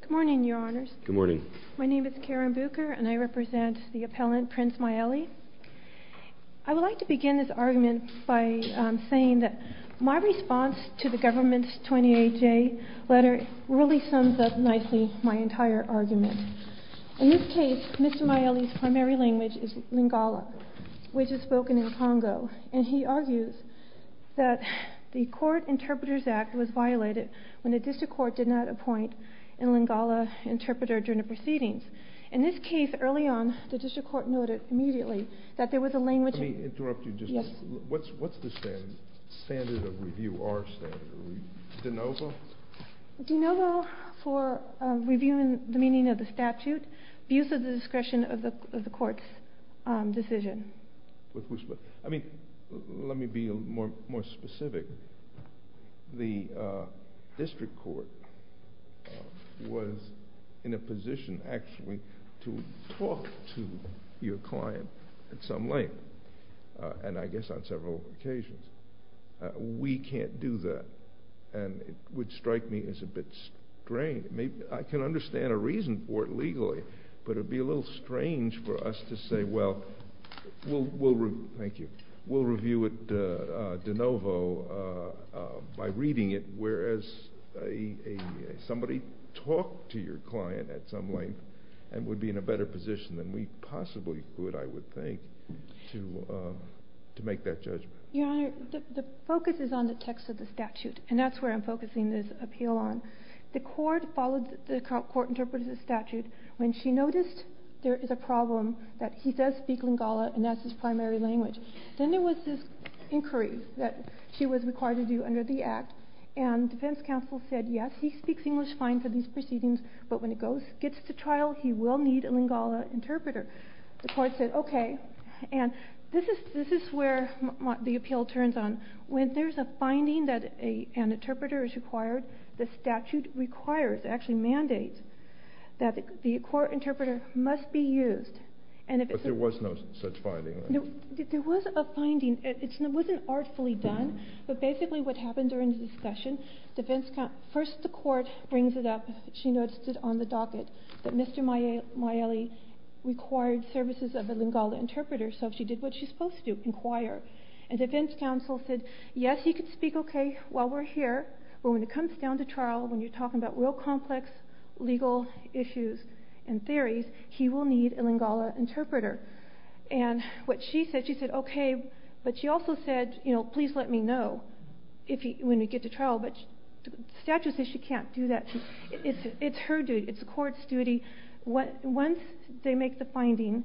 Good morning, Your Honours. Good morning. My name is Karen Bucher and I represent the appellant Prince Mayele. I would like to begin this argument by saying that my response to the government's 28-J letter really sums up nicely my entire argument. In this case, Mr. Mayele's primary language is Lingala, which is spoken in Congo, and he argues that the Court Interpreters Act was violated when a district court did not appoint a Lingala interpreter during the proceedings. In this case, early on, the district court noted immediately that there was a language... Let me interrupt you just a minute. What's the standard of review, our standard? De novo? De novo for reviewing the meaning of the statute, abuse of the court's decision. I mean, let me be more specific. The district court was in a position actually to talk to your client at some length, and I guess on several occasions. We can't do that, and it would strike me as a bit strange. I can understand a reason for it legally, but it would be a little strange for us to say, well, we'll review it de novo by reading it, whereas somebody talked to your client at some length and would be in a better position than we possibly could, I would think, to make that judgment. Your Honor, the focus is on the text of the statute, and that's where I'm focusing this appeal on. The court interpreted the statute when she noticed there is a problem that he does speak Lingala, and that's his primary language. Then there was this inquiry that she was required to do under the Act, and defense counsel said, yes, he speaks English fine for these proceedings, but when he gets to trial, he will need a Lingala interpreter. The court said, okay, and this is where the appeal turns on. When there's a finding that an interpreter is required, the statute requires, actually mandates, that the court interpreter must be used. But there was no such finding? There was a finding. It wasn't artfully done, but basically what happened during the discussion, first the court brings it up, she noticed it on the docket, that Mr. Maile required services of a Lingala interpreter, so she did what she's supposed to do, inquire, and when he gets down to trial, when you're talking about real complex legal issues and theories, he will need a Lingala interpreter. And what she said, she said, okay, but she also said, you know, please let me know when we get to trial, but the statute says she can't do that. It's her duty. It's the court's duty. Once they make the finding,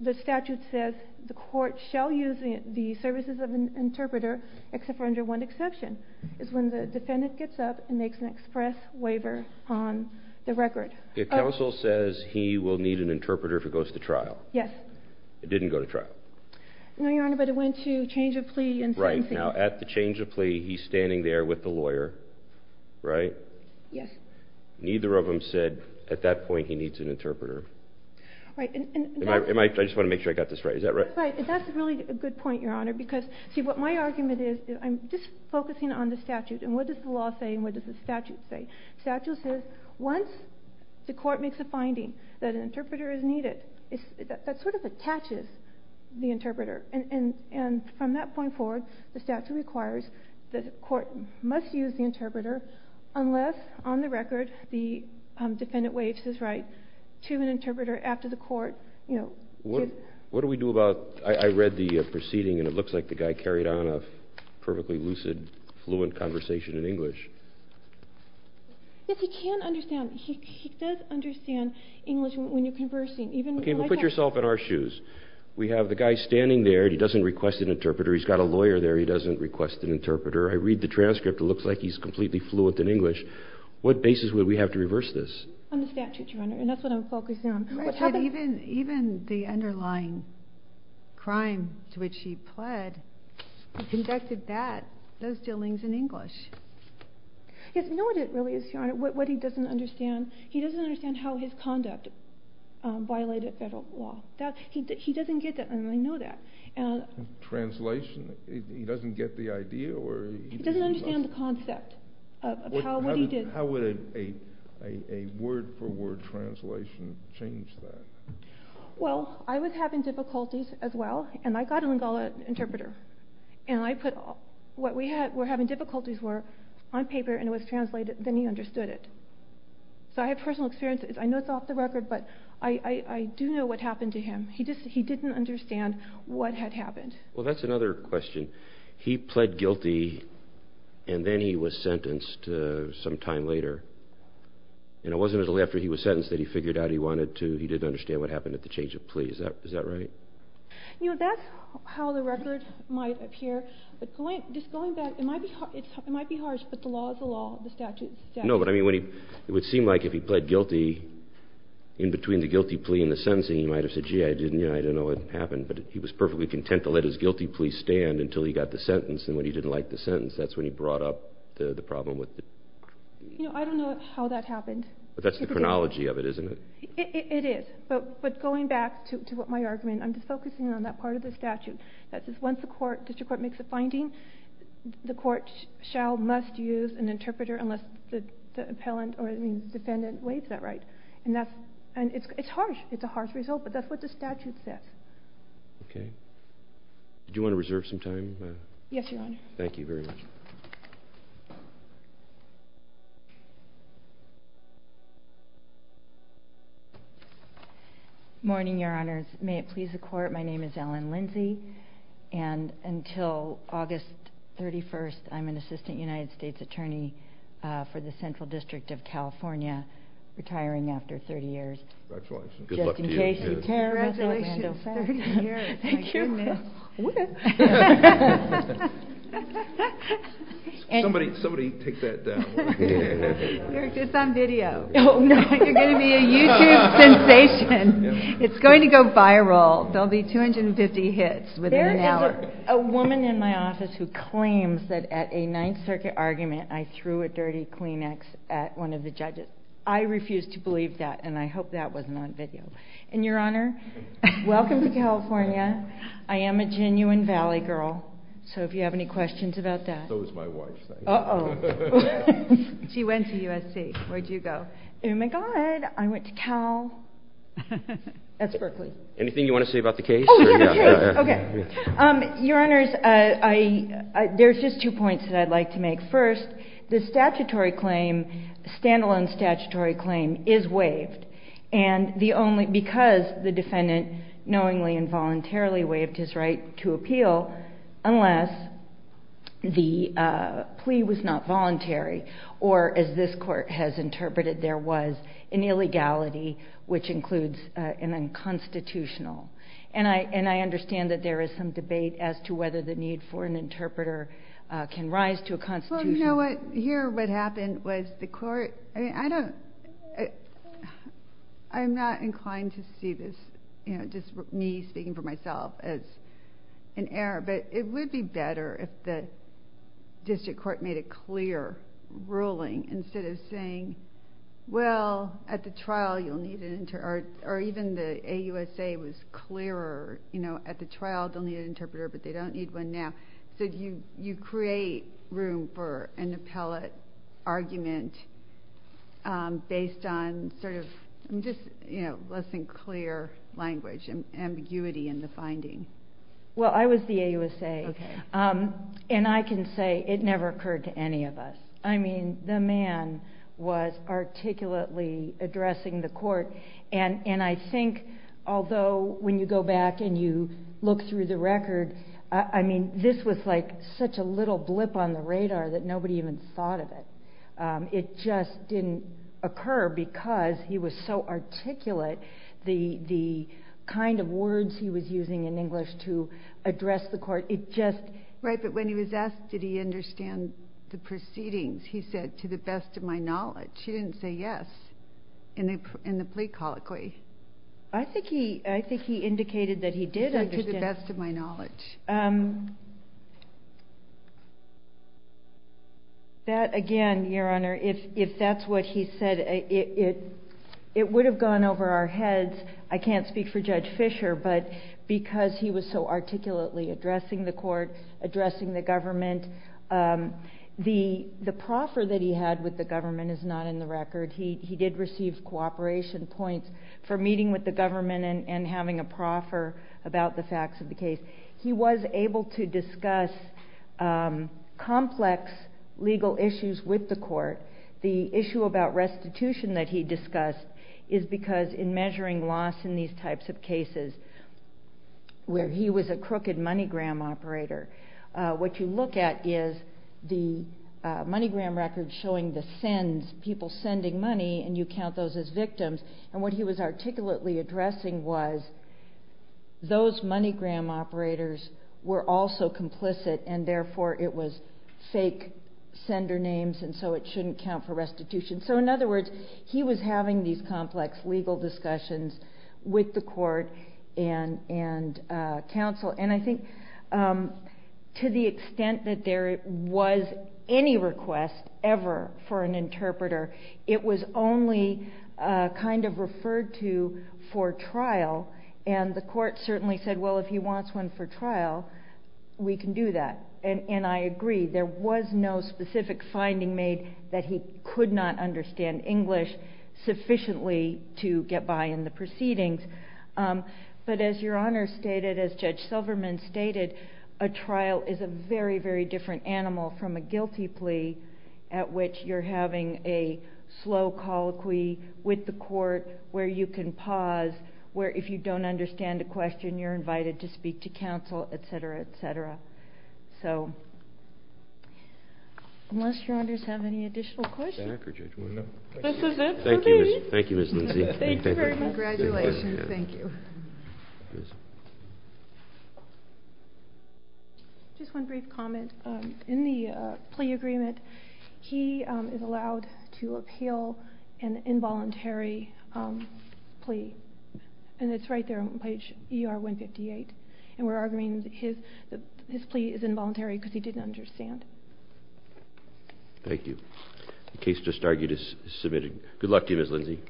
the statute says the court shall use the services of an interpreter, except for under one exception, is when the defendant gets up and makes an express waiver on the record. If counsel says he will need an interpreter if he goes to trial? Yes. It didn't go to trial? No, Your Honor, but it went to change of plea and sentencing. Right. Now at the change of plea, he's standing there with the lawyer, right? Yes. Neither of them said at that point he needs an interpreter. Right. I just want to make sure I got this right. Is that right? Right. That's really a good point, Your Honor, because, see, what my argument is, I'm just saying, what does the law say and what does the statute say? The statute says once the court makes a finding that an interpreter is needed, that sort of attaches the interpreter, and from that point forward, the statute requires that the court must use the interpreter unless on the record the defendant waives his right to an interpreter after the court, you know, What do we do about, I read the proceeding and it looks like the guy carried on a perfectly lucid, fluent conversation in English. Yes, he can understand. He does understand English when you're conversing. Okay, but put yourself in our shoes. We have the guy standing there. He doesn't request an interpreter. He's got a lawyer there. He doesn't request an interpreter. I read the transcript. It looks like he's completely fluent in English. What basis would we have to reverse this? On the statute, Your Honor, and that's what I'm focusing on. Even the underlying crime to which he pled, he conducted that, those dealings, in English. Yes, we know what it really is, Your Honor, what he doesn't understand. He doesn't understand how his conduct violated federal law. He doesn't get that, and I know that. Translation? He doesn't get the idea? He doesn't understand the concept of what he did. How would a word-for-word translation change that? Well, I was having difficulties as well, and I got a Lingala interpreter. And I put what we were having difficulties with on paper, and it was translated, then he understood it. So I have personal experience. I know it's off the record, but I do know what happened to him. He didn't understand what had happened. Well, that's another question. He pled guilty, and then he was sentenced some time later. And it wasn't until after he was sentenced that he figured out he wanted to. He didn't understand what happened at the change of plea. Is that right? You know, that's how the record might appear, but just going back, it might be harsh, but the law is the law. The statute is the statute. No, but I mean, it would seem like if he pled guilty in between the guilty plea and the sentencing, he might have said, gee, I didn't know what happened. But he was perfectly content to let his guilty plea stand until he got the sentence, and when he didn't like the sentence, that's when he brought up the problem with it. You know, I don't know how that happened. But that's the chronology of it, isn't it? It is, but going back to my argument, I'm just focusing on that part of the statute. That is, once the district court makes a finding, the court shall, must use an interpreter unless the defendant waives that right. And it's harsh. It's a harsh result, but that's what the statute says. Okay. Do you want to reserve some time? Yes, Your Honor. Thank you very much. Morning, Your Honors. May it please the Court, my name is Ellen Lindsey, and until August 31st, I'm an assistant United States attorney for the Central District of California retiring after 30 years. Congratulations. Good luck to you. Congratulations, 30 years. Thank you. Somebody take that down. It's on video. You're going to be a YouTube sensation. It's going to go viral. There will be 250 hits within an hour. There is a woman in my office who claims that at a Ninth Circuit argument, I threw a dirty Kleenex at one of the judges. I refuse to believe that, and I hope that wasn't on video. And, Your Honor, welcome to California. I am a genuine Valley girl, so if you have any questions about that. So is my wife. Uh-oh. She went to USC. Where'd you go? Oh, my God, I went to Cal. That's Berkeley. Anything you want to say about the case? Oh, yeah, the case. Okay. Your Honors, there's just two points that I'd like to make. First, the statutory claim, stand-alone statutory claim, is waived. And because the defendant knowingly and voluntarily waived his right to appeal, unless the plea was not voluntary or, as this Court has interpreted, there was an illegality, which includes an unconstitutional. And I understand that there is some debate as to whether the need for an interpreter can rise to a constitutional. Well, you know what? Here what happened was the Court, I mean, I don't, I'm not inclined to see this, you know, just me speaking for myself as an error. But it would be better if the district court made a clear ruling instead of saying, well, at the trial you'll need an interpreter, or even the AUSA was clearer, you know, at the trial they'll need an interpreter, but they don't need one now. So you create room for an appellate argument based on sort of just, you know, less than clear language and ambiguity in the finding. Well, I was the AUSA, and I can say it never occurred to any of us. I mean, the man was articulately addressing the Court, and I think although when you go back and you look through the record, I mean, this was like such a little blip on the radar that nobody even thought of it. It just didn't occur because he was so articulate. The kind of words he was using in English to address the Court, it just... Right, but when he was asked did he understand the proceedings, he said, to the best of my knowledge. He didn't say yes in the plea colloquy. I think he indicated that he did understand. To the best of my knowledge. That, again, Your Honor, if that's what he said, it would have gone over our heads. I can't speak for Judge Fisher, but because he was so articulately addressing the Court, addressing the government, the proffer that he had with the government is not in the record. He did receive cooperation points for meeting with the government and having a proffer about the facts of the case. He was able to discuss complex legal issues with the Court. The issue about restitution that he discussed is because in measuring loss in these types of cases, where he was a crooked money-gram operator, what you look at is the money-gram record showing the sins, people sending money, and you count those as victims, and what he was articulately addressing was those money-gram operators were also complicit and therefore it was fake sender names and so it shouldn't count for restitution. In other words, he was having these complex legal discussions with the Court and counsel. I think to the extent that there was any request ever for an interpreter, it was only kind of referred to for trial, and the Court certainly said, well, if he wants one for trial, we can do that. And I agree. There was no specific finding made that he could not understand English sufficiently to get by in the proceedings. But as Your Honor stated, as Judge Silverman stated, a trial is a very, very different animal from a guilty plea at which you're having a slow colloquy with the Court where you can pause, where if you don't understand a question, you're invited to speak to counsel, et cetera, et cetera. So unless Your Honors have any additional questions. This is it for me. Thank you, Ms. Lindsey. Thank you very much. Congratulations. Thank you. Just one brief comment. In the plea agreement, he is allowed to appeal an involuntary plea, and it's right there on page ER-158. And we're arguing that his plea is involuntary because he didn't understand. Thank you. The case just argued is submitted. Good luck to you, Ms. Lindsey.